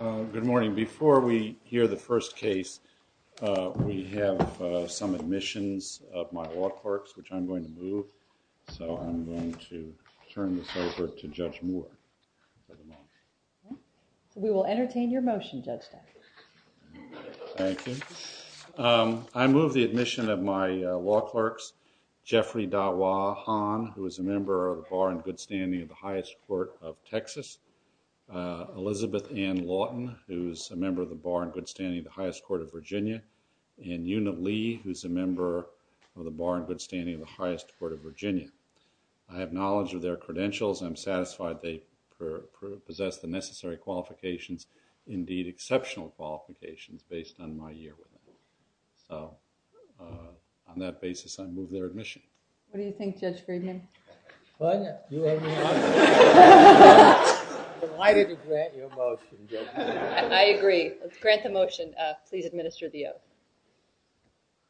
Good morning. Before we hear the first case, we have some admissions of my law clerks, which I'm going to move. So I'm going to turn this over to Judge Moore. We will entertain your motion, Judge. Thank you. I move the admission of my law clerks, Jeffrey Dawa Han, who is a member of the Bar and Good Standing of the Highest Court of Virginia, and Una Lee, who is a member of the Bar and Good Standing of the Highest Court of Virginia. I have knowledge of their credentials. I'm satisfied they possess the necessary qualifications, indeed exceptional qualifications, based on my year with them. So on that basis, I move their admission. What do you think, Judge Friedman? Why did you grant your motion, Judge? I agree. Let's grant the motion. Please administer the oath.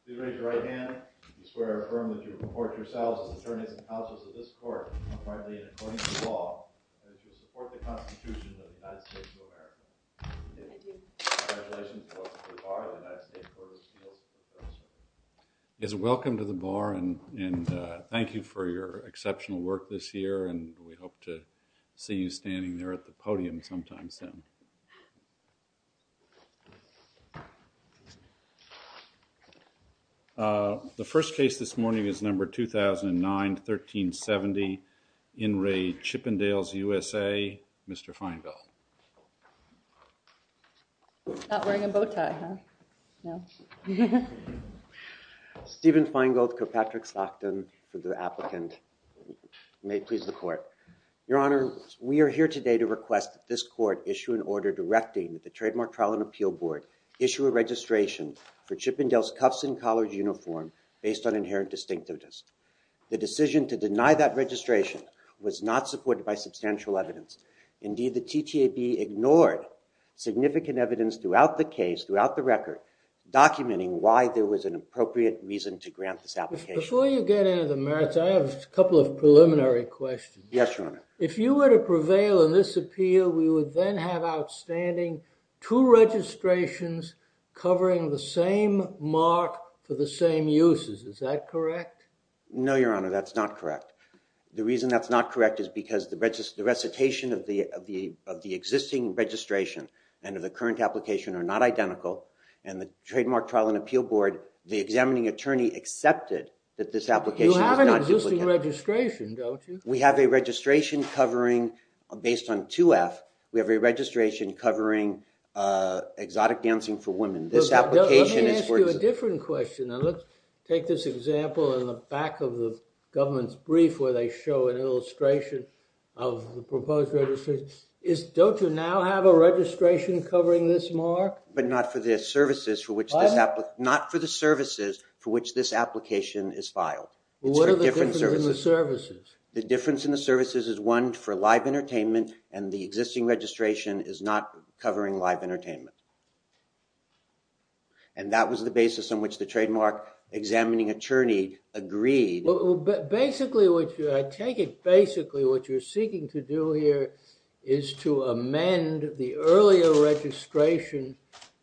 Please raise your right hand. I swear and affirm that you report yourselves as attorneys and counsels of this court, unquietly and according to law, and that you support the Constitution of the United States of America. Thank you. Congratulations to us at the Bar and the United States of America. You've done exceptional work this year, and we hope to see you standing there at the podium sometime soon. The first case this morning is number 2009-1370, In re Chippendales, USA, Mr. Feingold. Not wearing a bow tie, huh? No. Stephen Feingold, Kirkpatrick-Stockton, for the applicant. May it please the court. Your Honor, we are here today to request that this court issue an order directing the Trademark Trial and Appeal Board issue a registration for Chippendales Cuffs and Collars uniform based on inherent distinctiveness. The decision to deny that registration was not supported by substantial evidence. Indeed, the TTAB ignored significant evidence throughout the case, throughout the record, documenting why there was an appropriate reason to grant this application. Before you get into the merits, I have a couple of preliminary questions. Yes, Your Honor. If you were to prevail in this appeal, we would then have outstanding two registrations covering the same mark for the same uses. Is that correct? No, Your Honor, that's not correct. The reason that's not correct is because the recitation of the existing registration and of the current application are not identical, and the Trademark Trial and Appeal Board, the examining attorney, accepted that this application is not... You have an existing registration, don't you? We have a registration covering, based on 2F, we have a registration covering exotic dancing for women. This application is for... Let me ask you a different question. Now, let's take this example in the back of the government's illustration of the proposed registration. Don't you now have a registration covering this mark? But not for the services for which this... Not for the services for which this application is filed. What are the different services? The difference in the services is, one, for live entertainment, and the existing registration is not covering live entertainment. And that was the basis on which the trademark examining attorney agreed. Basically, I take it basically what you're seeking to do here is to amend the earlier registration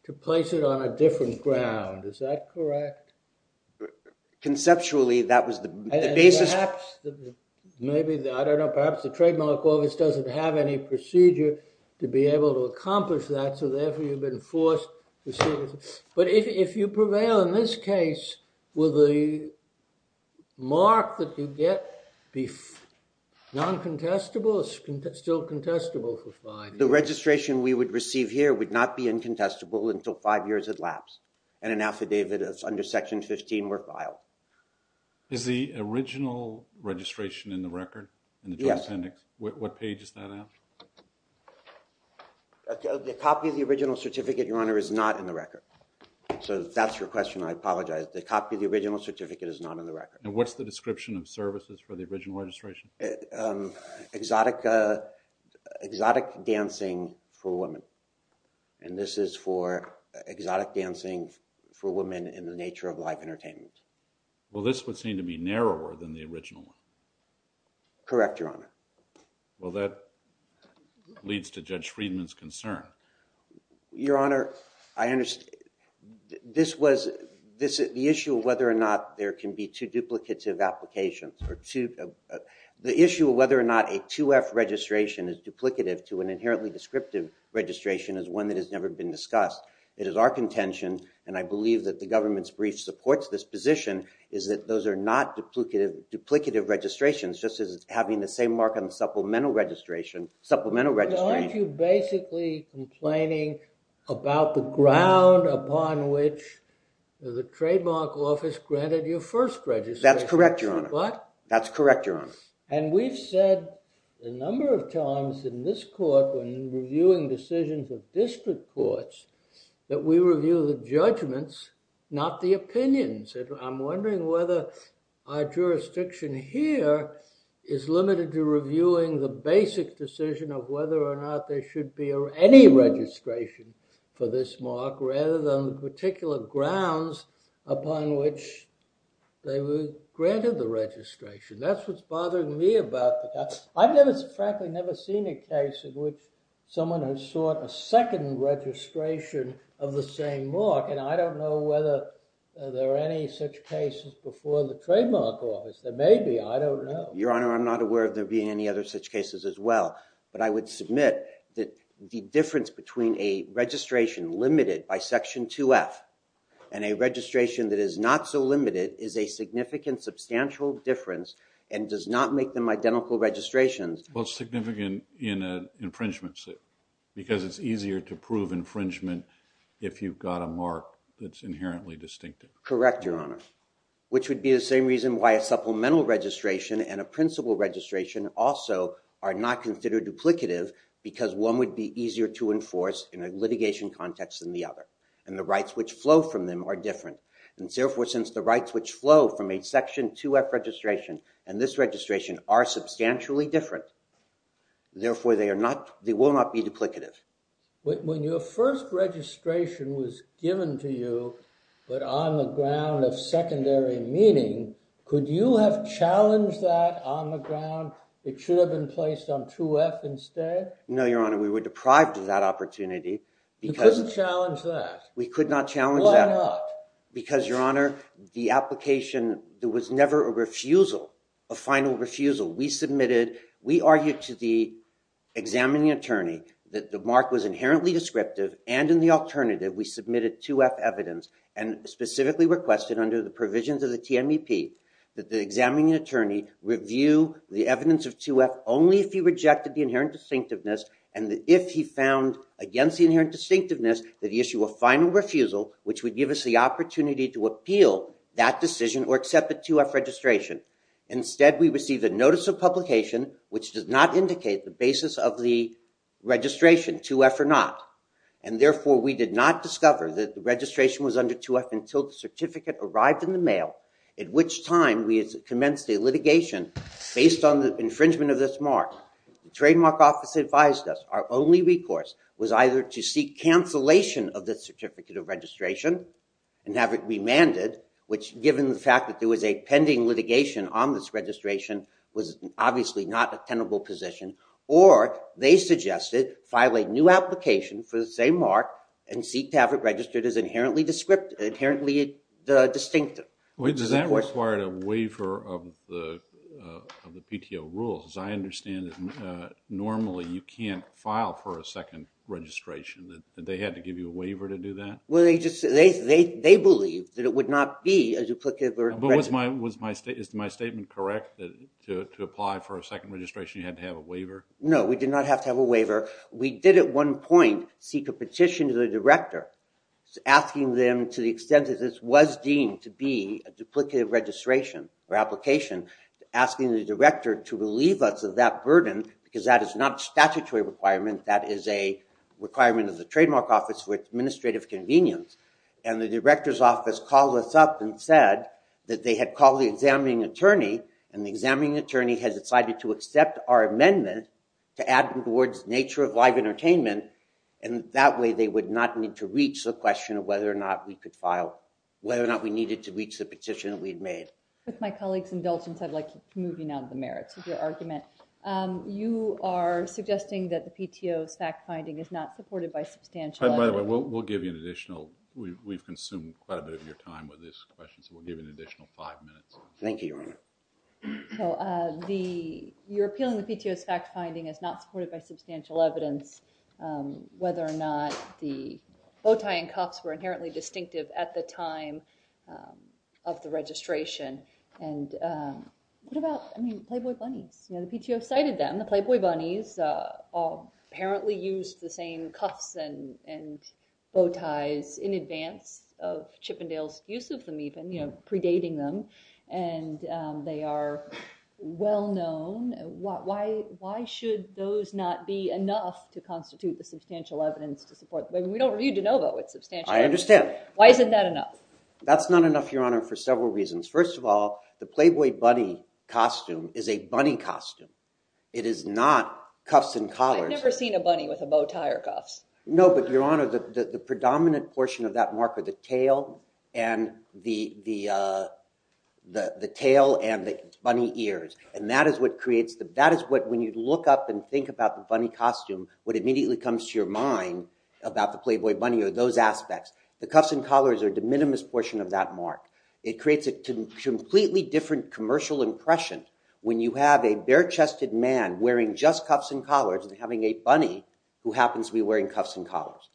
to place it on a different ground. Is that correct? Conceptually, that was the basis. Maybe, I don't know, perhaps the trademark office doesn't have any procedure to be able to accomplish that, so therefore you've been forced to... But if you prevail in this case will the mark that you get be non-contestable or still contestable for five years? The registration we would receive here would not be incontestable until five years had lapsed and an affidavit under section 15 were filed. Is the original registration in the record, in the drug appendix? What page is that at? The copy of the original certificate, your honor, is not in the record. So that's your question, I apologize. The copy of the original certificate is not in the record. And what's the description of services for the original registration? Exotic dancing for women, and this is for exotic dancing for women in the nature of live entertainment. Well, this would seem to be narrower than the original one. Correct, your honor. Well, that leads to Judge Friedman's concern. Your honor, I understand. This was the issue of whether or not there can be two duplicative applications. The issue of whether or not a 2F registration is duplicative to an inherently descriptive registration is one that has never been discussed. It is our contention, and I believe that the government's brief supports this position, is that those are not duplicative registrations, just as having the same mark on the supplemental registration. But aren't you basically complaining about the ground upon which the trademark office granted your first registration? That's correct, your honor. What? That's correct, your honor. And we've said a number of times in this court, when reviewing decisions of district courts, that we review the judgments, not the opinions. I'm wondering whether our jurisdiction here is limited to reviewing the basic decision of whether or not there should be any registration for this mark, rather than the particular grounds upon which they were granted the registration. That's what's bothering me about that. I've never, frankly, never seen a case in which someone has sought a second registration of the same mark, and I don't know whether there are any such cases before the trademark office. There may be, I don't know. Your honor, I'm not aware of there being any other such cases as well, but I would submit that the difference between a registration limited by Section 2F and a registration that is not so limited is a significant, substantial difference, and does not make them identical registrations. Well, it's significant in an infringement suit, because it's easier to prove infringement if you've got a mark that's inherently distinctive. Correct, your honor, which would be the same reason why a supplemental registration and a principal registration also are not considered duplicative, because one would be easier to enforce in a litigation context than the other, and the rights which flow from them are different, and therefore, since the rights which flow from a Section 2F registration and this registration are substantially different, therefore, they will not be duplicative. When your first registration was given to you, but on the ground of secondary meeting, could you have challenged that on the ground? It should have been placed on 2F instead? No, your honor, we were deprived of that opportunity. You couldn't challenge that? We could not challenge that. Why not? Because, your honor, the application, there was never a refusal, a final refusal. We submitted, we argued to the examining attorney that the mark was inherently descriptive, and in the alternative, we submitted 2F evidence, and specifically requested under the provisions of the TMEP that the examining attorney review the evidence of 2F only if he rejected the inherent distinctiveness, and that if he found against the inherent distinctiveness, that he issue a final refusal, which would give us the opportunity to appeal that decision or accept 2F registration. Instead, we received a notice of publication which does not indicate the basis of the registration, 2F or not, and therefore, we did not discover that the registration was under 2F until the certificate arrived in the mail, at which time we commenced a litigation based on the infringement of this mark. The trademark office advised us our only recourse was either to seek cancellation of this certificate of registration and have it remanded, which given the fact that there was a pending litigation on this registration, was obviously not a tenable position, or they suggested file a new application for the same mark and seek to have it registered as inherently distinctive. Wait, does that require a waiver of the of the PTO rules? As I understand it, normally you can't file for a second registration. They had to give you a waiver to do that? Well, they just, they believe that it would not be a duplicative. But was my statement correct, that to apply for a second registration, you had to have a waiver? No, we did not have to have a waiver. We did at one point seek a petition to the director, asking them to the extent that this was deemed to be a duplicative registration or application, asking the director to relieve us of that burden, because that is not a statutory requirement. That is a requirement of the trademark office for administrative convenience. And the director's office called us up and said that they had called the examining attorney, and the examining attorney has decided to accept our amendment to add them towards nature of live entertainment, and that way they would not need to reach the question of whether or not we could file, whether or not we needed to reach the petition that we had made. With my colleague's the PTO's fact-finding is not supported by substantial evidence. By the way, we'll give you an additional, we've consumed quite a bit of your time with this question, so we'll give you an additional five minutes. Thank you, your honor. So the, you're appealing the PTO's fact-finding as not supported by substantial evidence, whether or not the bow tie and cuffs were inherently distinctive at the time of the registration. And what about, I mean, Playboy bunnies? You know, the PTO cited them, the Playboy bunnies, apparently used the same cuffs and bow ties in advance of Chippendale's use of them, even, you know, predating them, and they are well known. Why should those not be enough to constitute the substantial evidence to support, I mean, we don't review DeNovo with substantial evidence. I understand. Why isn't that enough? That's not enough, your honor, for several reasons. First of all, the Playboy bunny costume is a bunny costume. It is not cuffs and collars. I've never seen a bunny with a bow tie or cuffs. No, but your honor, the predominant portion of that mark are the tail and the bunny ears, and that is what creates the, that is what, when you look up and think about the bunny costume, what immediately comes to your mind about the Playboy bunny are those aspects. The cuffs and collars are the minimus portion of that mark. It creates a completely different commercial impression when you have a bare-chested man wearing just cuffs and collars and having a bunny who happens to be wearing cuffs and collars.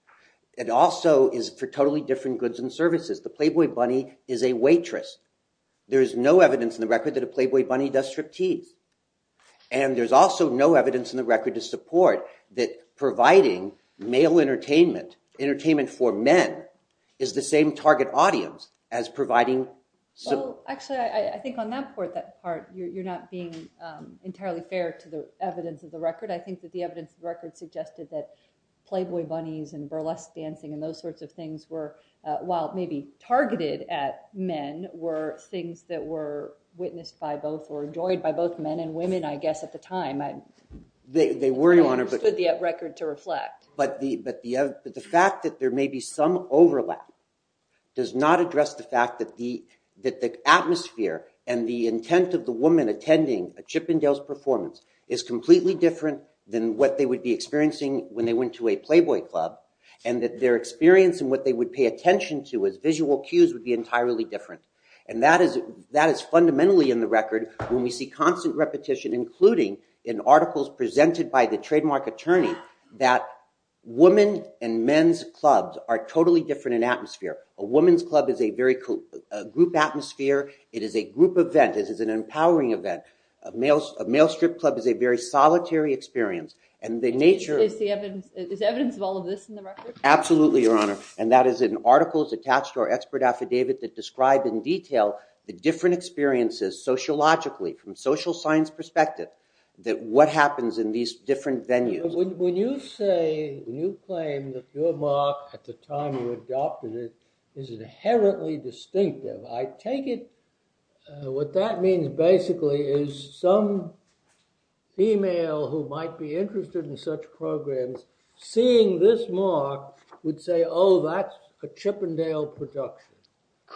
It also is for totally different goods and services. The Playboy bunny is a waitress. There is no evidence in the record that a Playboy bunny does striptease, and there's also no evidence in the record to support that providing male entertainment, entertainment for men, is the same target audience as providing... Well, actually, I think on that part, that part, you're not being entirely fair to the evidence of the record. I think that the evidence of the record suggested that Playboy bunnies and burlesque dancing and those sorts of things were, while maybe targeted at men, were things that were witnessed by both or enjoyed by both men and women, I guess, at the time. They were, Your Honor. But the fact that there may be some overlap does not address the fact that the atmosphere and the intent of the woman attending a Chippendale's performance is completely different than what they would be experiencing when they went to a Playboy club, and that their experience and what they would pay attention to as visual cues would be entirely different. And that is fundamentally in the record when we see articles presented by the trademark attorney that women and men's clubs are totally different in atmosphere. A woman's club is a very group atmosphere. It is a group event. It is an empowering event. A male strip club is a very solitary experience, and the nature... Is evidence of all of this in the record? Absolutely, Your Honor, and that is in articles attached to our expert affidavit that describe in detail the different experiences sociologically, from social science perspective, that what happens in these different venues. When you say, when you claim that your mark at the time you adopted it is inherently distinctive, I take it what that means basically is some female who might be interested in such programs seeing this mark would say, oh, that's a Chippendale production.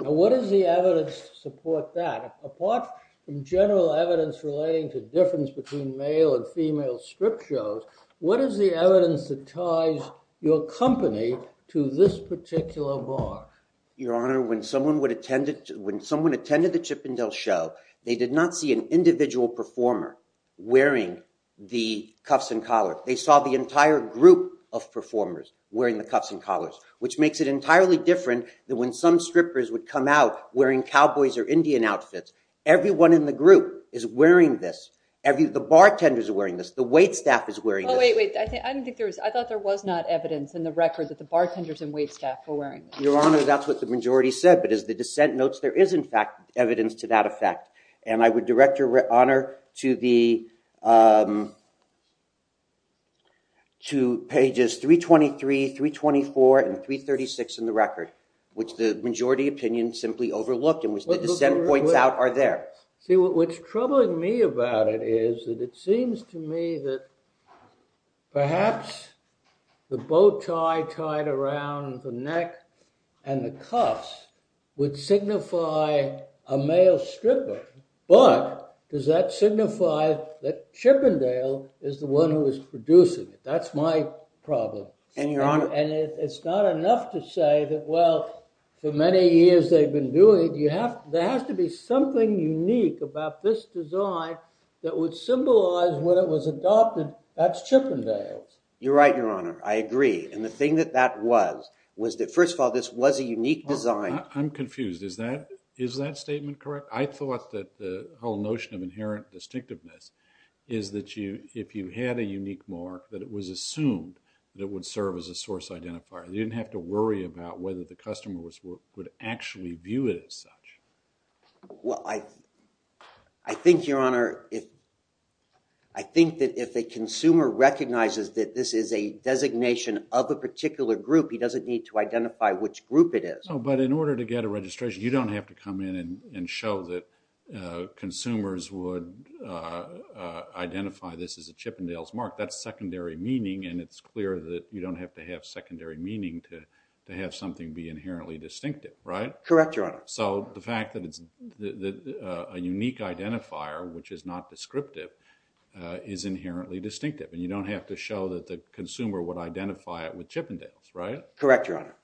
Now, what is the evidence to support that? Apart from general evidence relating to difference between male and female strip shows, what is the evidence that ties your company to this particular mark? Your Honor, when someone attended the Chippendale show, they did not see an individual performer wearing the cuffs and collar. They saw the entire group of performers wearing the cuffs and collars, which makes it entirely different than when some strippers would come out wearing cowboys or Indian outfits. Everyone in the group is wearing this. The bartenders are wearing this. The wait staff is wearing this. Wait, wait. I thought there was not evidence in the record that the bartenders and wait staff were wearing this. Your Honor, that's what the majority said, but as the dissent notes, there is, in fact, evidence to that effect, and I would direct Your Honor to pages 323, 324, and 336 in the record, which the majority opinion simply overlooked and which the dissent points out are there. See, what's troubling me about it is that it seems to me that perhaps the bow tie tied around the neck and the cuffs would signify a male stripper, but does that signify that Chippendale is the one who is producing it? That's my problem. And Your Honor— And it's not enough to say that, well, for many years they've been doing it, there has to be something unique about this design that would symbolize when it was adopted that's Chippendale's. You're right, Your Honor. I agree. And the thing that that was, was that, first of all, this was a unique design. I'm confused. Is that statement correct? I thought that the whole notion of inherent distinctiveness is that if you had a unique mark, that it was assumed that it would serve as a source identifier. You didn't have to worry about whether the customer would actually view it as such. Well, I think, Your Honor, I think that if a consumer recognizes that this is a designation of a particular group, he doesn't need to identify which group it is. But in order to get a registration, you don't have to come in and show that consumers would identify this as a Chippendale's mark. That's secondary meaning, and it's clear that you don't have to have secondary meaning to have something be inherently distinctive, right? Correct, Your Honor. So the fact that it's a unique identifier, which is not descriptive, is inherently distinctive, and you don't have to show that the consumer would identify it with Chippendale's, right? Correct, Your Honor.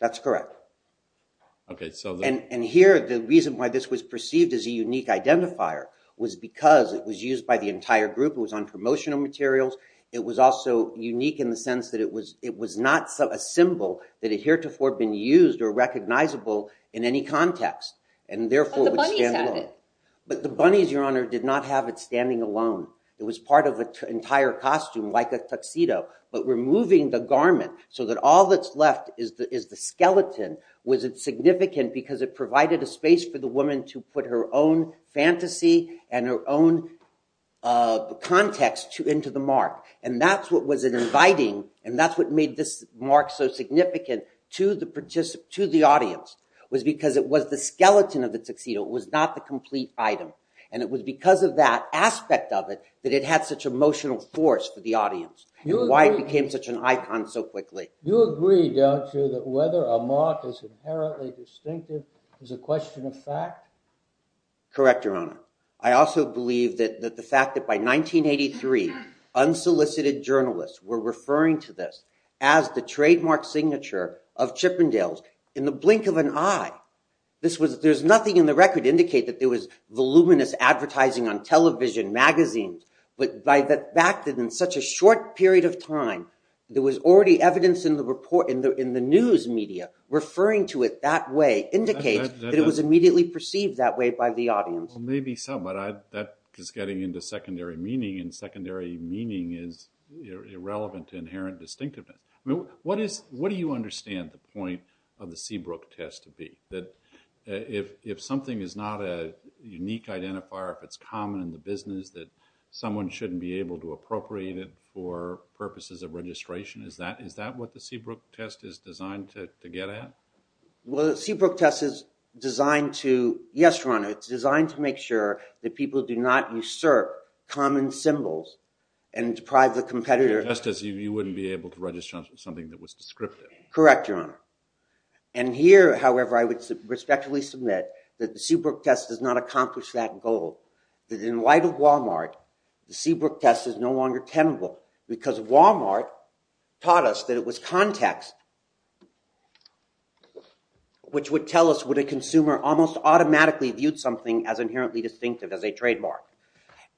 That's correct. Okay, so... And here, the reason why this was perceived as a unique identifier was because it was used by the entire group. It was on promotional materials. It was also unique in the sense that it was not a symbol that had heretofore been used or recognizable in any context, and therefore... But the bunnies had it. But the bunnies, Your Honor, did not have it standing alone. It was part of an entire costume, like a tuxedo. But removing the garment so that all that's left is the skeleton, was it significant because it provided a space for the woman to put her own fantasy and her own context into the mark? And that's what was inviting, and that's what made this mark so significant to the audience, was because it was the skeleton of the tuxedo. It was not the complete item. And it was because of that aspect of it that it had such emotional force for the audience, and why it became such an icon so quickly. You agree, don't you, that whether a mark is inherently distinctive is a question of fact? Correct, Your Honor. I also believe that the fact that by 1983, unsolicited journalists were referring to this as the trademark signature of Chippendales in the blink of an eye. There's nothing in the record to indicate that there was voluminous advertising on television, magazines, but by the fact that in such a short period of time, there was already evidence in the news media referring to it that way indicates that it was immediately perceived that way by the audience. Maybe so, but that is getting into secondary meaning, and secondary meaning is irrelevant to inherent distinctiveness. What do you understand the point of the Seabrook test to be? That if something is not a unique identifier, if it's common in the business that someone shouldn't be able to appropriate it for purposes of registration, is that what the Seabrook test is designed to get at? Well, the Seabrook test is designed to... Yes, Your Honor, it's designed to make sure that people do not usurp common symbols and deprive the competitor... Just as you wouldn't be able to register something that was descriptive. Correct, Your Honor. And here, however, I would respectfully submit that the Seabrook test does not accomplish that goal. That in light of Walmart, the Seabrook test is no longer tenable because Walmart taught us that it was context which would tell us would a consumer almost automatically viewed something as inherently distinctive as a trademark.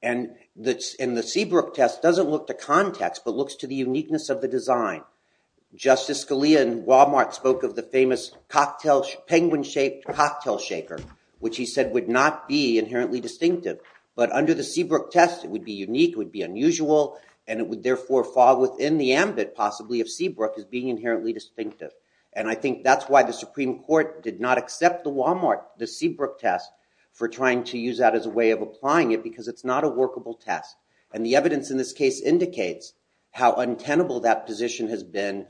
And the Seabrook test doesn't look to context but looks to the uniqueness of the design. Justice Scalia in Walmart spoke of the famous penguin-shaped cocktail shaker, which he said would not be inherently distinctive, but under the Seabrook test, it would be unique, it would be unusual, and it would therefore fall within the ambit, possibly, of Seabrook as being inherently distinctive. And I think that's why the Supreme Court did not accept the Walmart, the Seabrook test, for trying to use that as a way of applying it because it's not a workable test. And the evidence in this case indicates how untenable that position has been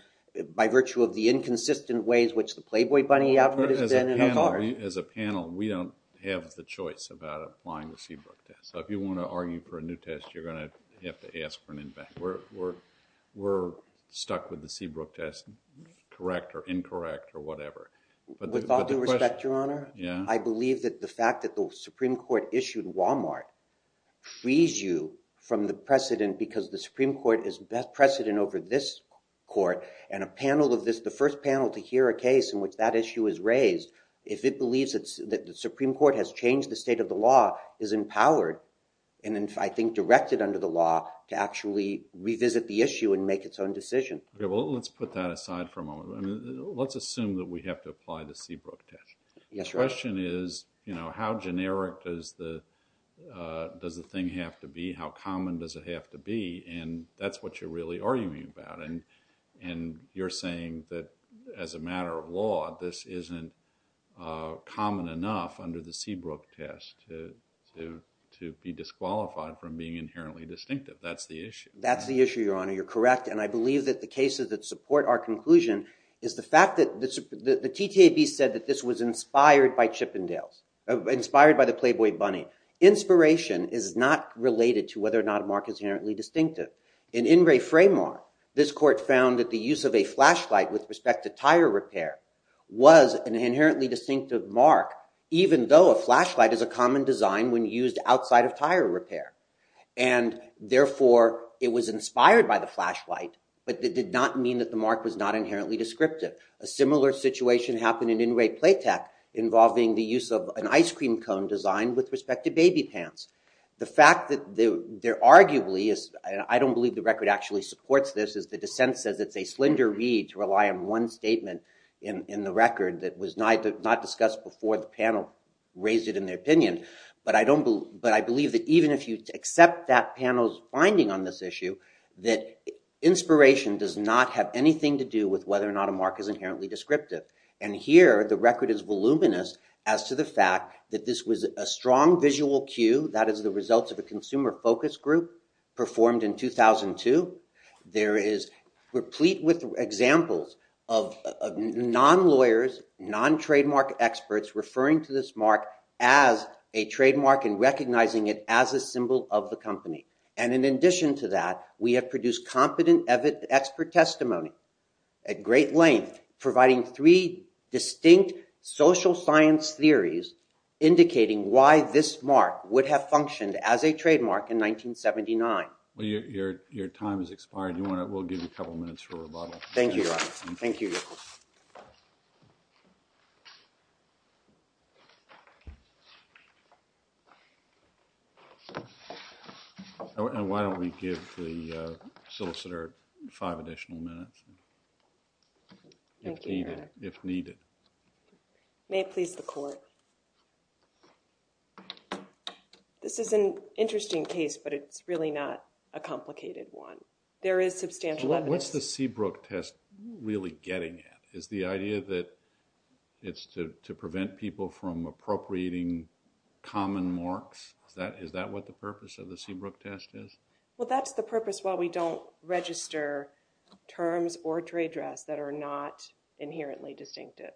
by virtue of the inconsistent ways which the Playboy Bunny advert has been and others. As a panel, we don't have the choice about applying the Seabrook test. So if you want to argue for a new test, you're going to have to ask for an invent. We're stuck with the Seabrook test, correct or incorrect or whatever. With all due respect, your honor, I believe that the fact that the Supreme Court issued Walmart frees you from the precedent because the Supreme Court is precedent over this court and a panel of this, the first panel to hear a case in which that issue is raised, if it believes that the state of the law is empowered and, I think, directed under the law to actually revisit the issue and make its own decision. Well, let's put that aside for a moment. Let's assume that we have to apply the Seabrook test. The question is, you know, how generic does the thing have to be? How common does it have to be? And that's what you're really arguing about. And you're saying that as a matter of law, this isn't common enough under the Seabrook test to be disqualified from being inherently distinctive. That's the issue. That's the issue, your honor. You're correct. And I believe that the cases that support our conclusion is the fact that the TTAB said that this was inspired by Chippendales, inspired by the Playboy Bunny. Inspiration is not related to whether or not a mark is inherently distinctive. In Ingray Framework, this court found that the use of a flashlight with respect to tire repair was an inherently distinctive mark, even though a flashlight is a common design when used outside of tire repair. And therefore, it was inspired by the flashlight, but that did not mean that the mark was not inherently descriptive. A similar situation happened in Ingray Playtech involving the use of an ice cream cone design with respect to baby pants. The fact that there arguably is, and I don't believe the record actually supports this, is the dissent says it's a slender read to rely on one statement in the record that was not discussed before the panel raised it in their opinion. But I believe that even if you accept that panel's finding on this issue, that inspiration does not have anything to do with whether or not a mark is inherently descriptive. And here, the record is voluminous as to the fact that this was a strong visual cue that is the result of a consumer focus group performed in 2002. There is replete with examples of non-lawyers, non-trademark experts referring to this mark as a trademark and recognizing it as a symbol of the company. And in addition to that, we have produced competent expert testimony at great length providing three distinct social science theories indicating why this mark would have functioned as a trademark in 1979. Well, your time has expired. You want to, we'll give you a couple minutes for rebuttal. Thank you, your honor. Thank you. And why don't we give the solicitor five additional minutes, if needed. May it please the court. This is an interesting case, but it's really not a complicated one. There is substantial evidence. What's the Seabrook test really getting at? Is the idea that it's to prevent people from appropriating common marks? Is that what the purpose of the Seabrook test is? Well, that's the purpose why we don't register terms or trade drafts that are not inherently distinctive.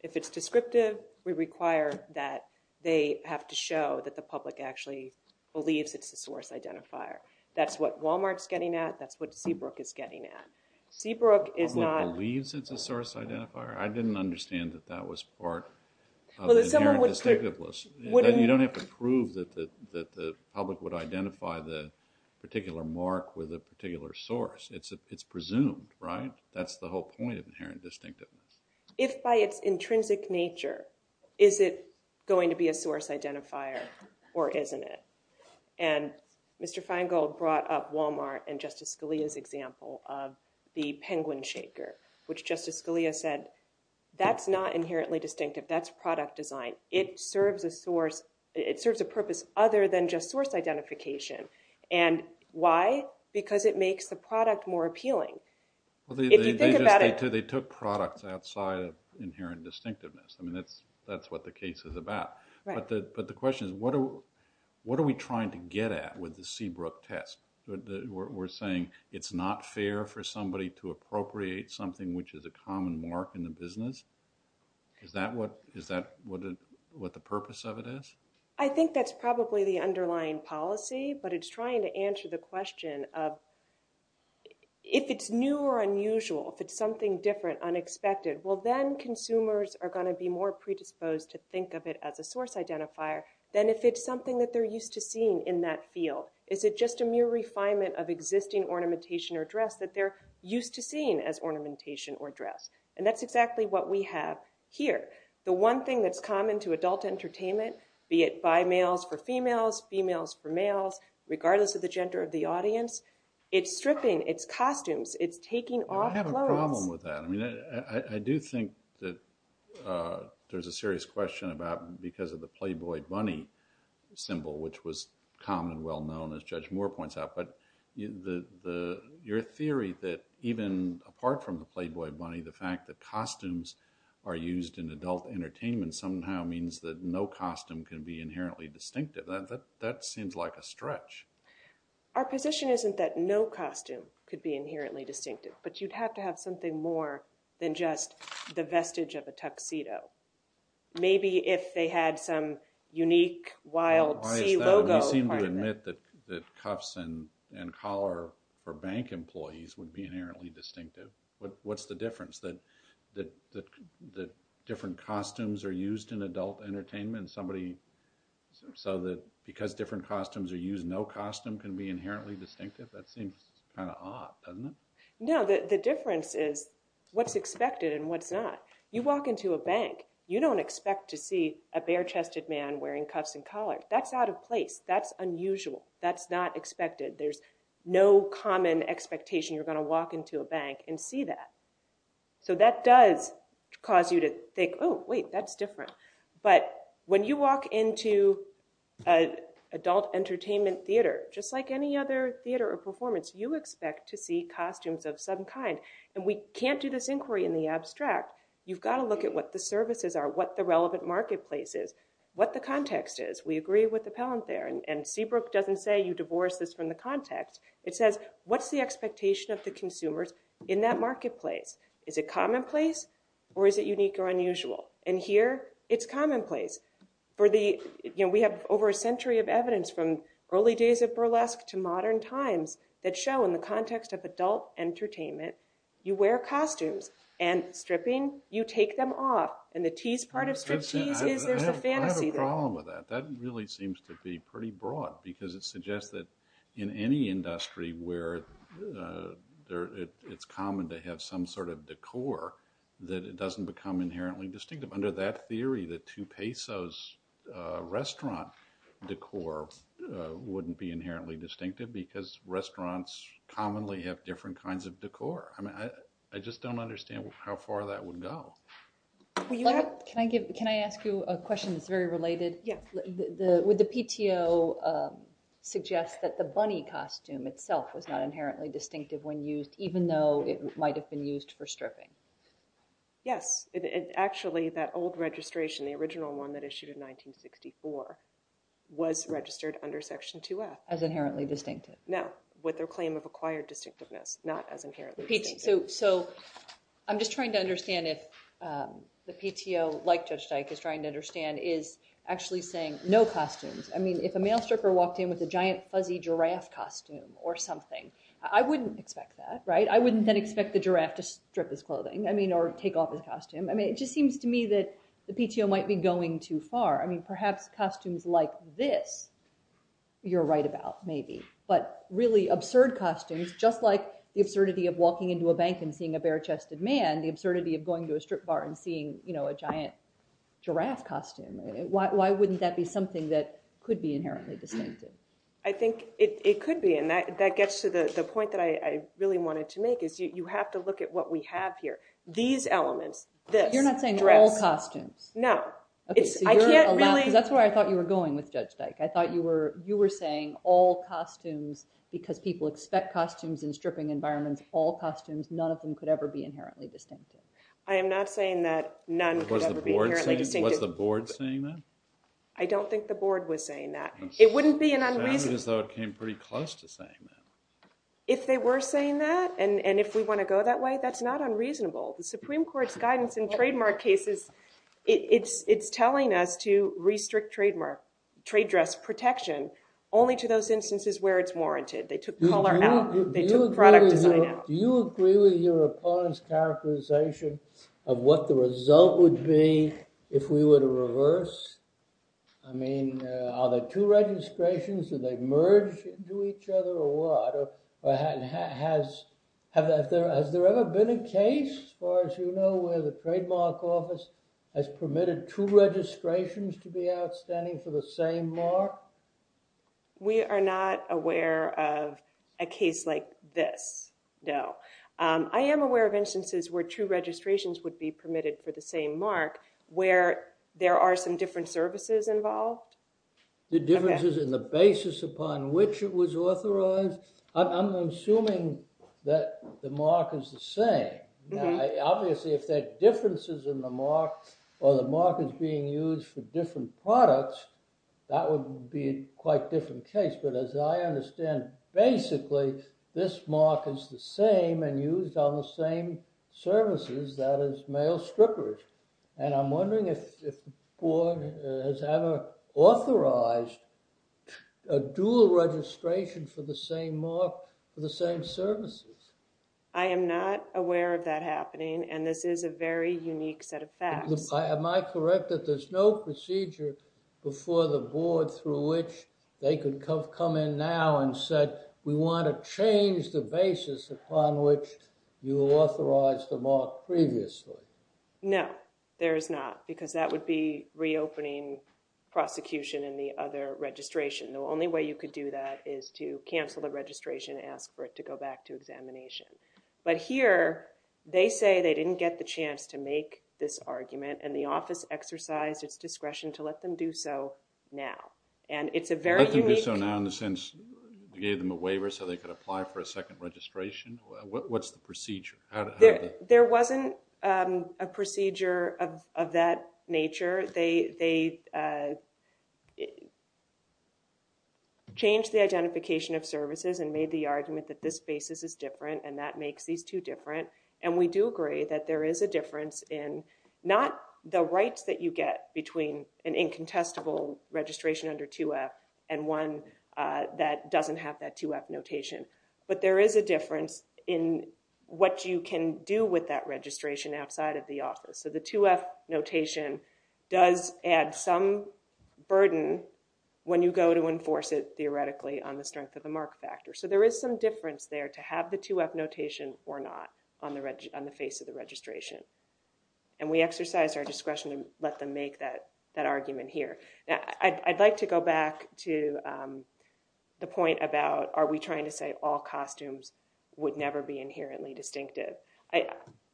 If it's descriptive, we require that they have to show that the public actually believes it's a source identifier. That's what Walmart's getting at. That's what Seabrook is getting at. Seabrook is not- The public believes it's a source identifier? I didn't understand that that was part of the inherent distinctiveness. You don't have to prove that the public would identify the particular mark with a particular source. It's presumed, right? That's the whole point of inherent distinctiveness. If by its intrinsic nature, is it going to be a source identifier or isn't it? Mr. Feingold brought up Walmart and Justice Scalia's example of the penguin shaker, which Justice Scalia said, that's not inherently distinctive. That's product design. It serves a purpose other than just source identification. Why? Because it makes the product more appealing. They took products outside of inherent distinctiveness. I mean, that's what the case is about. But the question is, what are we trying to get at with the Seabrook test? We're saying it's not fair for somebody to appropriate something which is a common mark in the business? Is that what the purpose of it is? I think that's probably the underlying policy, but it's trying to answer the question of if it's new or unusual, if it's something different, unexpected, well then consumers are going to be more predisposed to think of it as a source identifier than if it's something that they're used to seeing in that field. Is it just a mere refinement of existing ornamentation or dress that they're used to seeing as ornamentation or dress? And that's exactly what we have here. The one thing that's common to adult entertainment, be it by males for females, females for males, regardless of the gender of the audience, it's stripping, it's costumes, it's taking off clothes. I have a problem with that. I do think that there's a serious question about because of the Playboy bunny symbol, which was common, well known, as Judge Moore points out. But your theory that even apart from the Playboy bunny, the fact that costumes are used in adult entertainment somehow means that no costume can be inherently distinctive. That seems like a stretch. Our position isn't that no costume could be inherently distinctive, but you'd have to have something more than just the vestige of a tuxedo. Maybe if they had some unique wild C logo. You seem to admit that cuffs and collar for bank employees would be inherently distinctive. What's the difference that different costumes are used in adult entertainment so that because different costumes are used, no costume can be inherently distinctive? That seems kind of odd, doesn't it? No, the difference is what's expected and what's not. You walk into a bank, you don't expect to see a bare-chested man wearing cuffs and collar. That's out of place. That's unusual. That's not common expectation. You're going to walk into a bank and see that. So that does cause you to think, oh, wait, that's different. But when you walk into an adult entertainment theater, just like any other theater or performance, you expect to see costumes of some kind. And we can't do this inquiry in the abstract. You've got to look at what the services are, what the relevant marketplace is, what the context is. We agree with the context. It says, what's the expectation of the consumers in that marketplace? Is it commonplace or is it unique or unusual? And here, it's commonplace. We have over a century of evidence from early days of burlesque to modern times that show in the context of adult entertainment, you wear costumes and stripping, you take them off. And the tease part of striptease is there's a fantasy there. I have a problem with that. That really seems to be pretty broad because it seems to me that in any industry where it's common to have some sort of decor, that it doesn't become inherently distinctive. Under that theory, the two pesos restaurant decor wouldn't be inherently distinctive because restaurants commonly have different kinds of decor. I mean, I just don't understand how far that would go. Can I ask you a question that's very related? Would the PTO suggest that the bunny costume itself was not inherently distinctive when used even though it might have been used for stripping? Yes. Actually, that old registration, the original one that issued in 1964, was registered under Section 2F. As inherently distinctive? No. With their claim of acquired distinctiveness, not as inherently distinctive. So I'm just trying to say, no costumes. I mean, if a male stripper walked in with a giant fuzzy giraffe costume or something, I wouldn't expect that, right? I wouldn't then expect the giraffe to strip his clothing, I mean, or take off his costume. I mean, it just seems to me that the PTO might be going too far. I mean, perhaps costumes like this you're right about, maybe. But really absurd costumes, just like the absurdity of walking into a bank and seeing a bare-chested man, the absurdity of going to a strip bar and seeing, you know, a giant giraffe costume. Why wouldn't that be something that could be inherently distinctive? I think it could be, and that gets to the point that I really wanted to make, is you have to look at what we have here. These elements, this dress. You're not saying all costumes? No. Okay, so you're allowed, because that's where I thought you were going with Judge Dyke. I thought you were saying all costumes, because people expect costumes in stripping environments, all costumes, none of them could ever be inherently distinctive. I am not saying that none could ever be inherently distinctive. Was the board saying that? I don't think the board was saying that. It wouldn't be an unreasonable... It sounded as though it came pretty close to saying that. If they were saying that, and if we want to go that way, that's not unreasonable. The Supreme Court's guidance in trademark cases, it's telling us to restrict trademark, trade dress protection only to those instances where it's warranted. They took color out, they took product design out. Do you agree with your opponent's characterization of what the result would be if we were to reverse? I mean, are there two registrations, do they merge into each other or what? Has there ever been a case, as far as you know, where the trademark office has permitted two registrations to be outstanding for the same mark? We are not aware of a case like this, no. I am aware of instances where two registrations would be permitted for the same mark, where there are some different services involved. The differences in the basis upon which it was authorized? I'm assuming that the mark is the same. Obviously, if there are differences in the mark, or the mark is being used for different products, that would be a quite different case. But as I understand, basically, this mark is the same and used on the same services, that is, male strippers. And I'm wondering if the board has ever authorized a dual registration for the same mark for the same services. I am not aware of that before the board, through which they could come in now and said, we want to change the basis upon which you authorized the mark previously. No, there is not, because that would be reopening prosecution in the other registration. The only way you could do that is to cancel the registration, ask for it to go back to examination. But here, they say they didn't get the chance to make this argument, and the office exercised its discretion to let them do so now. And it's a very unique... Let them do so now in the sense, you gave them a waiver so they could apply for a second registration? What's the procedure? There wasn't a procedure of that nature. They changed the identification of services and made the argument that this basis is different, and that makes these two different. And we do agree that there is a difference in not the rights that you get between an incontestable registration under 2F and one that doesn't have that 2F notation, but there is a difference in what you can do with that registration outside of the office. So the 2F notation does add some burden when you go to enforce it theoretically on the strength of the mark factor. So there is some 2F notation or not on the face of the registration. And we exercise our discretion to let them make that argument here. Now, I'd like to go back to the point about, are we trying to say all costumes would never be inherently distinctive?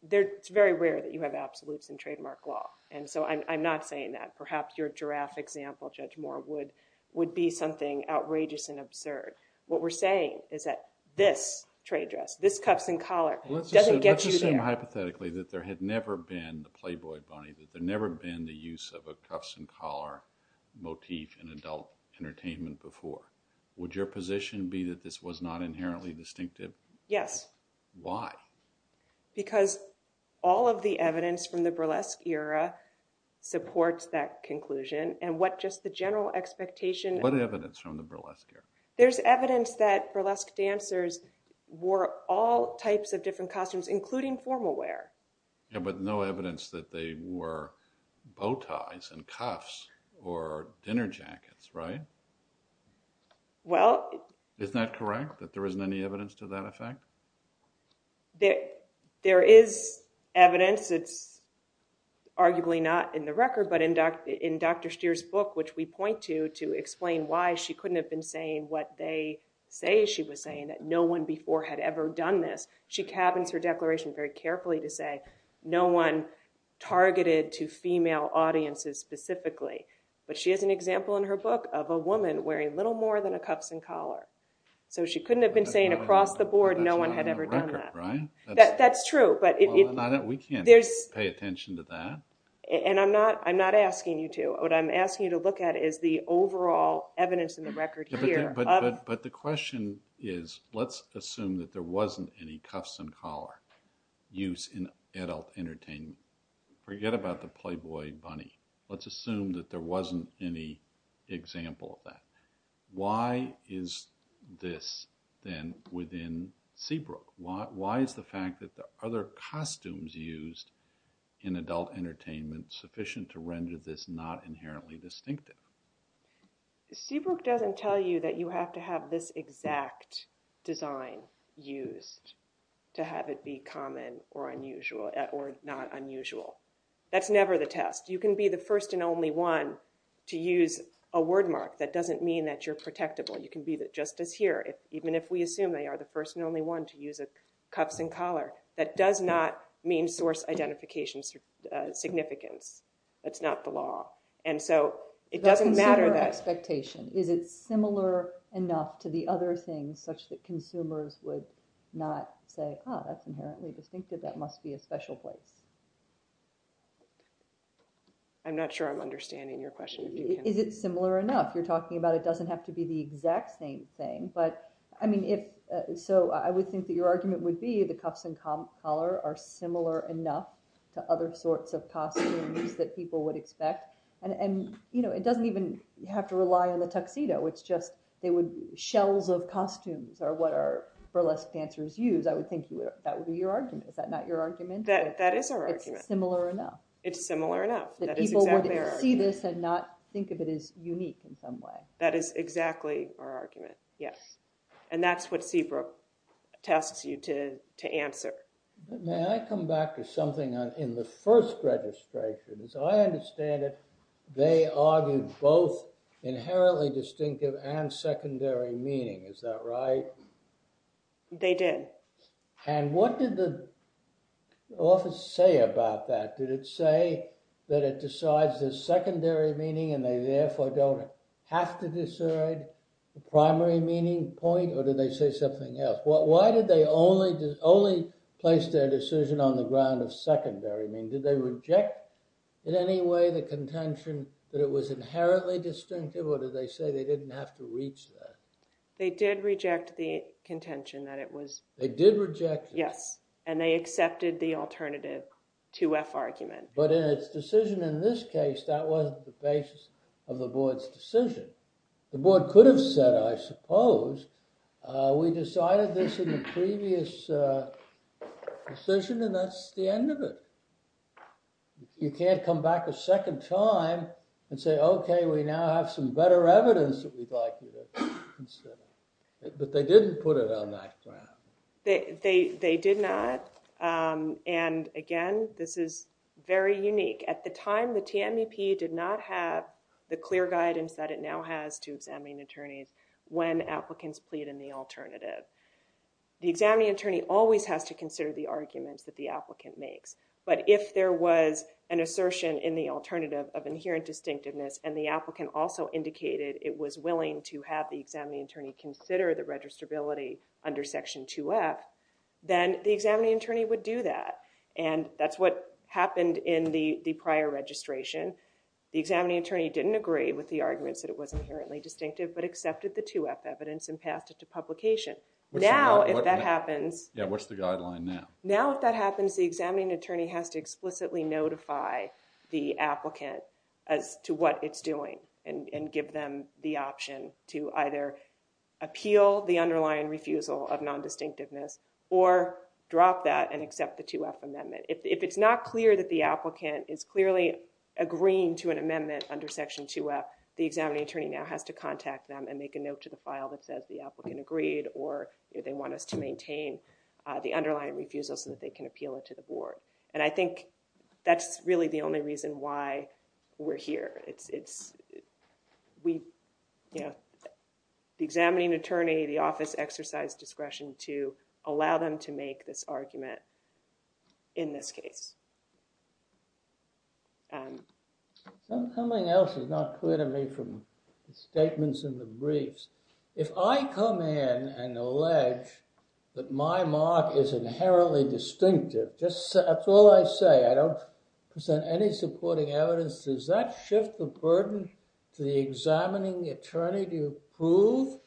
It's very rare that you have absolutes in trademark law, and so I'm not saying that. Perhaps your giraffe example, Judge Moore, would be something outrageous and absurd. What we're saying is that this trade dress, this Cuffs and Collar, doesn't get you there. Let's assume hypothetically that there had never been the Playboy Bunny, that there never been the use of a Cuffs and Collar motif in adult entertainment before. Would your position be that this was not inherently distinctive? Yes. Why? Because all of the evidence from the burlesque era supports that conclusion, and what just the general expectation... What evidence from the burlesque era? There's evidence that burlesque dancers wore all types of different costumes, including formal wear. Yeah, but no evidence that they wore bow ties and cuffs or dinner jackets, right? Well... Isn't that correct? That there isn't any evidence to that effect? There is evidence. It's arguably not in the book, which we point to, to explain why she couldn't have been saying what they say she was saying, that no one before had ever done this. She cabins her declaration very carefully to say no one targeted to female audiences specifically, but she has an example in her book of a woman wearing little more than a Cuffs and Collar, so she couldn't have been saying across the board no one had ever done that, right? That's true, but... We can't pay attention to that. And I'm not asking you to. What I'm asking you to look at is the overall evidence in the record here. But the question is, let's assume that there wasn't any Cuffs and Collar use in adult entertainment. Forget about the Playboy bunny. Let's assume that there wasn't any example of that. Why is this then within Seabrook? Why is the fact that the other costumes used in adult entertainment sufficient to render this not inherently distinctive? Seabrook doesn't tell you that you have to have this exact design used to have it be common or unusual or not unusual. That's never the test. You can be the first and only one to use a word mark. That doesn't mean that you're protectable. You can be just as here, even if we assume they are the first and only one to use a Cuffs and Collar. That does not mean source identification significance. That's not the law. And so it doesn't matter that... Is it similar enough to the other things such that consumers would not say, oh, that's inherently distinctive. That must be a special place. I'm not sure I'm understanding your question. Is it similar enough? You're talking about it doesn't have to be the exact same thing. So I would think that your argument would be the Cuffs and Collar are similar enough to other sorts of costumes that people would expect. And it doesn't even have to rely on the tuxedo. It's just they would... Shells of costumes are what our burlesque dancers use. I would think that would be your argument. Is that not your argument? That is our argument. It's similar enough. It's similar enough. People would see this and not think of it as That is exactly our argument. Yes. And that's what Seabrook tests you to answer. May I come back to something in the first registration? As I understand it, they argued both inherently distinctive and secondary meaning. Is that right? They did. And what did the office say about that? Did it say that it decides the secondary meaning and they therefore don't have to decide the primary meaning point? Or did they say something else? Why did they only place their decision on the ground of secondary meaning? Did they reject in any way the contention that it was inherently distinctive? Or did they say they didn't have to reach that? They did reject the contention that it was... They did reject it. Yes. And they accepted the alternative to F argument. But in its decision in this case, that wasn't the basis of the board's decision. The board could have said, I suppose, we decided this in the previous decision and that's the end of it. You can't come back a second time and say, okay, we now have some better evidence that we'd like you to consider. But they didn't put it on that ground. They did not. And again, this is very unique. At the time the TMEP did not have the clear guidance that it now has to examining attorneys when applicants plead in the alternative. The examining attorney always has to consider the arguments that the applicant makes. But if there was an assertion in the alternative of inherent distinctiveness and the applicant also indicated it was willing to have the examining attorney consider the registrability under section 2F, then the examining attorney would do that. And that's what happened in the prior registration. The examining attorney didn't agree with the arguments that it was inherently distinctive, but accepted the 2F evidence and passed it to publication. Now, if that happens... Yeah. What's the guideline now? Now, if that happens, the examining attorney has to explicitly notify the applicant as to what it's doing and give them the option to either appeal the underlying refusal of non-distinctiveness or drop that and accept the 2F amendment. If it's not clear that the applicant is clearly agreeing to an amendment under section 2F, the examining attorney now has to contact them and make a note to the file that says the applicant agreed or they want us to maintain the underlying refusal so that they can appeal it to the board. And I think that's really the only reason why we're here. It's... We... Yeah. The examining attorney, the office exercised discretion to allow them to make this argument in this case. Something else is not clear to me from the statements in the briefs. If I come in and allege that my mark is inherently distinctive, that's all I say. I don't present any supporting evidence. Does that shift the burden to the examining attorney to prove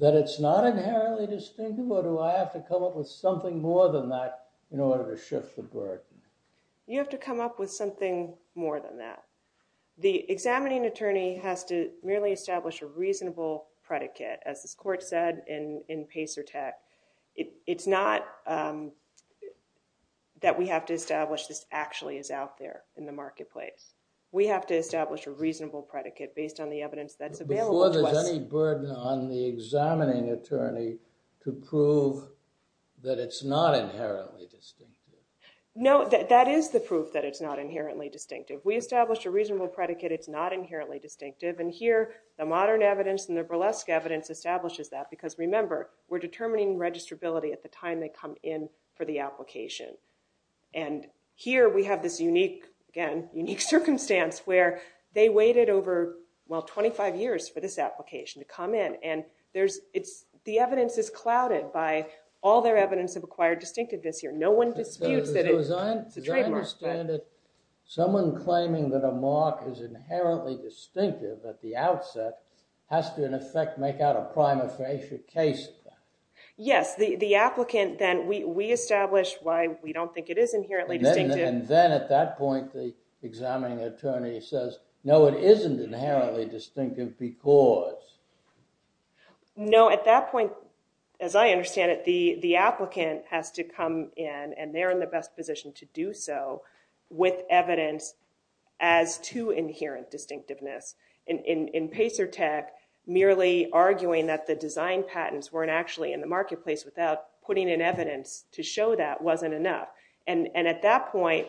that it's not inherently distinctive or do I have to come up with something more than that in order to shift the burden? You have to come up with something more than that. The examining attorney has to merely establish a reasonable predicate. As this court said in Pacer Tech, it's not that we have to establish this actually is out there in the marketplace. We have to establish a reasonable predicate based on the evidence that's available to us. Before there's any burden on the examining attorney to prove that it's not inherently distinctive. No, that is the proof that it's not inherently distinctive. We established a reasonable predicate it's not inherently distinctive and here the modern evidence and the burlesque evidence establishes that because remember we're determining registrability at the time they come in for the application and here we have this unique again unique circumstance where they waited over well 25 years for this application to come in and there's it's the evidence is clouded by all their evidence of acquired distinctiveness here no one disputes that it's a trademark. Someone claiming that a mark is inherently distinctive at the outset has to in effect make out a prima facie case. Yes, the applicant then we establish why we don't think it is inherently distinctive. And then at that point the examining attorney says no it isn't inherently distinctive because. No, at that point as I understand it the the applicant has to come in and they're in the best position to do so with evidence as to inherent distinctiveness. In Pacer Tech merely arguing that the design patents weren't actually in the marketplace without putting in evidence to show that wasn't enough and and at that point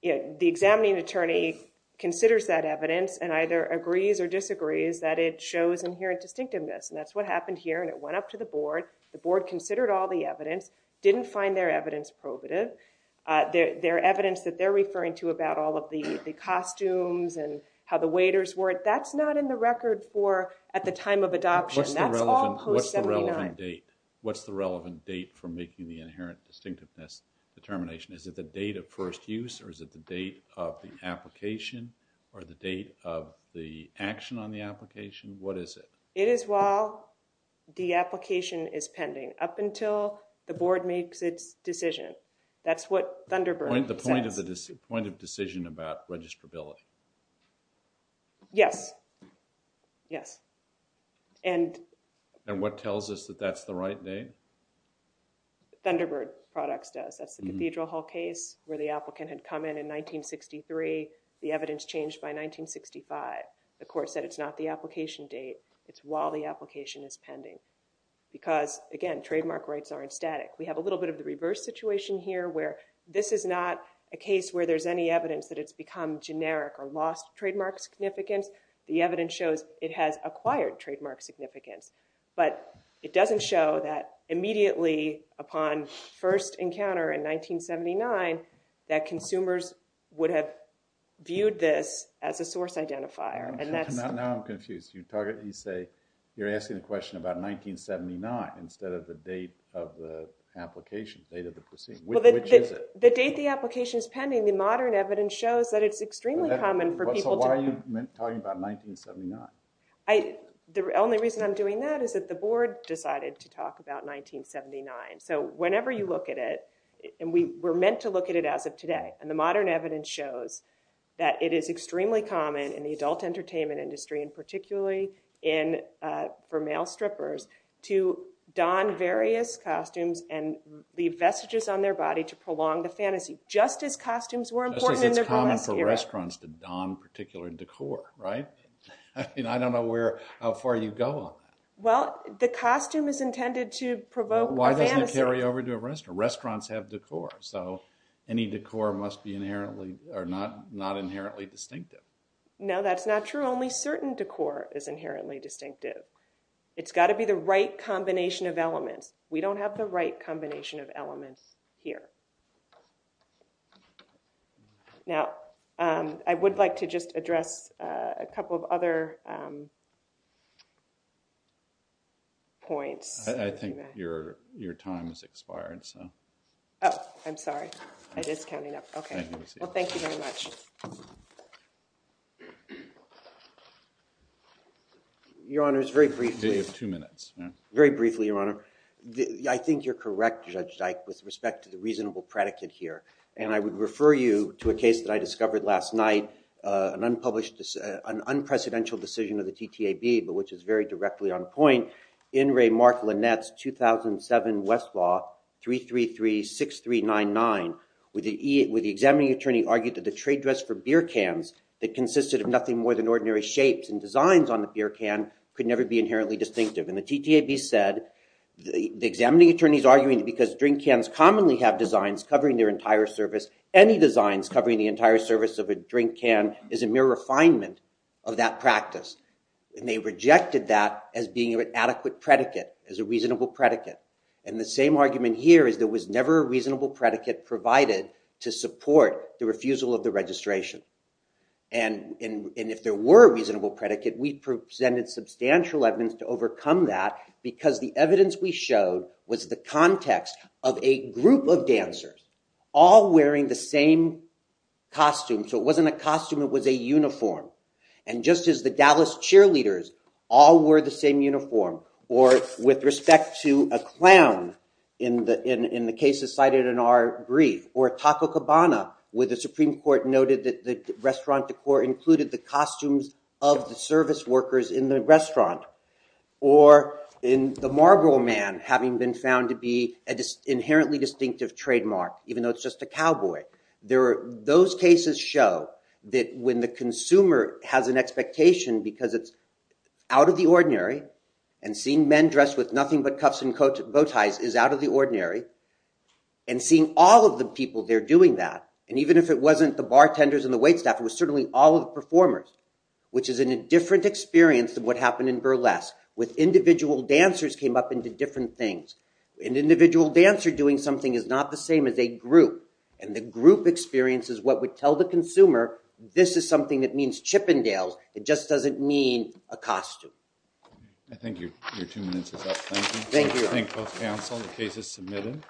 you know the examining attorney considers that evidence and either agrees or disagrees that it shows inherent distinctiveness and that's what happened here and it went up to the board. The board considered all the evidence didn't find their evidence probative. Their evidence that they're referring to about all of the the costumes and how the waiters wore it that's not in the record for at the time of adoption. That's all post 79. What's the relevant date for making the inherent distinctiveness determination? Is it the date of first use or is it the date of the application or the date of the action on the application? What is it? It is while the application is pending up until the board makes its decision. That's what Thunderbird. The point of the point of decision about registrability. Yes, yes and. And what tells us that that's the right date? Thunderbird products does. That's the Cathedral Hall case where the applicant had come in in 1963. The evidence changed by 1965. The court said it's not the application date. It's while the again trademark rights aren't static. We have a little bit of the reverse situation here where this is not a case where there's any evidence that it's become generic or lost trademark significance. The evidence shows it has acquired trademark significance but it doesn't show that immediately upon first encounter in 1979 that consumers would have viewed this as a source identifier and that's. Now I'm confused. You target you say you're asking a question about 1979 instead of the date of the application date of the proceeding. Which is it? The date the application is pending the modern evidence shows that it's extremely common for people. So why are you talking about 1979? I the only reason I'm doing that is that the board decided to talk about 1979. So whenever you look at it and we were meant to look at it as of today and the modern evidence shows that it is extremely common in the adult entertainment industry and particularly in for male strippers to don various costumes and leave vestiges on their body to prolong the fantasy just as costumes were important. Just as it's common for restaurants to don particular decor right? I mean I don't know where how far you go on that. Well the costume is intended to provoke. Why doesn't carry over to a restaurant? Restaurants have decor. So any decor must be inherently or not not inherently distinctive. No that's not true. Only certain decor is inherently distinctive. It's got to be the right combination of elements. We don't have the right combination of elements here. Now I would like to just address a couple of other points. I think your your time has expired so. Oh I'm sorry. I just counting up. Okay well thank you very much. Your honor is very briefly. You have two minutes. Very briefly your honor. I think you're correct Judge Dyke with respect to the reasonable predicate here and I would refer you to a case that I but which is very directly on point. In re Mark Lynette's 2007 Westlaw 333-6399 with the examining attorney argued that the trade dress for beer cans that consisted of nothing more than ordinary shapes and designs on the beer can could never be inherently distinctive and the TTAB said the examining attorney's arguing because drink cans commonly have designs covering their entire surface. Any designs covering the entire surface of a drink can is a mere refinement of that practice and they rejected that as being an adequate predicate as a reasonable predicate and the same argument here is there was never a reasonable predicate provided to support the refusal of the registration and if there were a reasonable predicate we presented substantial evidence to overcome that because the evidence we showed was the context of a group of dancers all wearing the same costume so it wasn't a costume it was a uniform and just as the Dallas cheerleaders all wore the same uniform or with respect to a clown in the in the cases cited in our brief or Taco Cabana with the Supreme Court noted that the restaurant decor included the costumes of the service workers in the restaurant or in the Marlboro man having been found to be inherently distinctive trademark even though it's just a cowboy there are those cases show that when the consumer has an expectation because it's out of the ordinary and seeing men dressed with nothing but cuffs and coat bow ties is out of the ordinary and seeing all of the people they're doing that and even if it wasn't the bartenders and the wait staff it was certainly all of the performers which is in a different experience than what happened in burlesque with individual dancers came up into different things an individual dancer doing something is not the same as a group and the group experience is what would tell the consumer this is something that means Chippendales it just doesn't mean a costume. I think your two minutes is up. Thank you. Thank you. I think both counsel the case is submitted.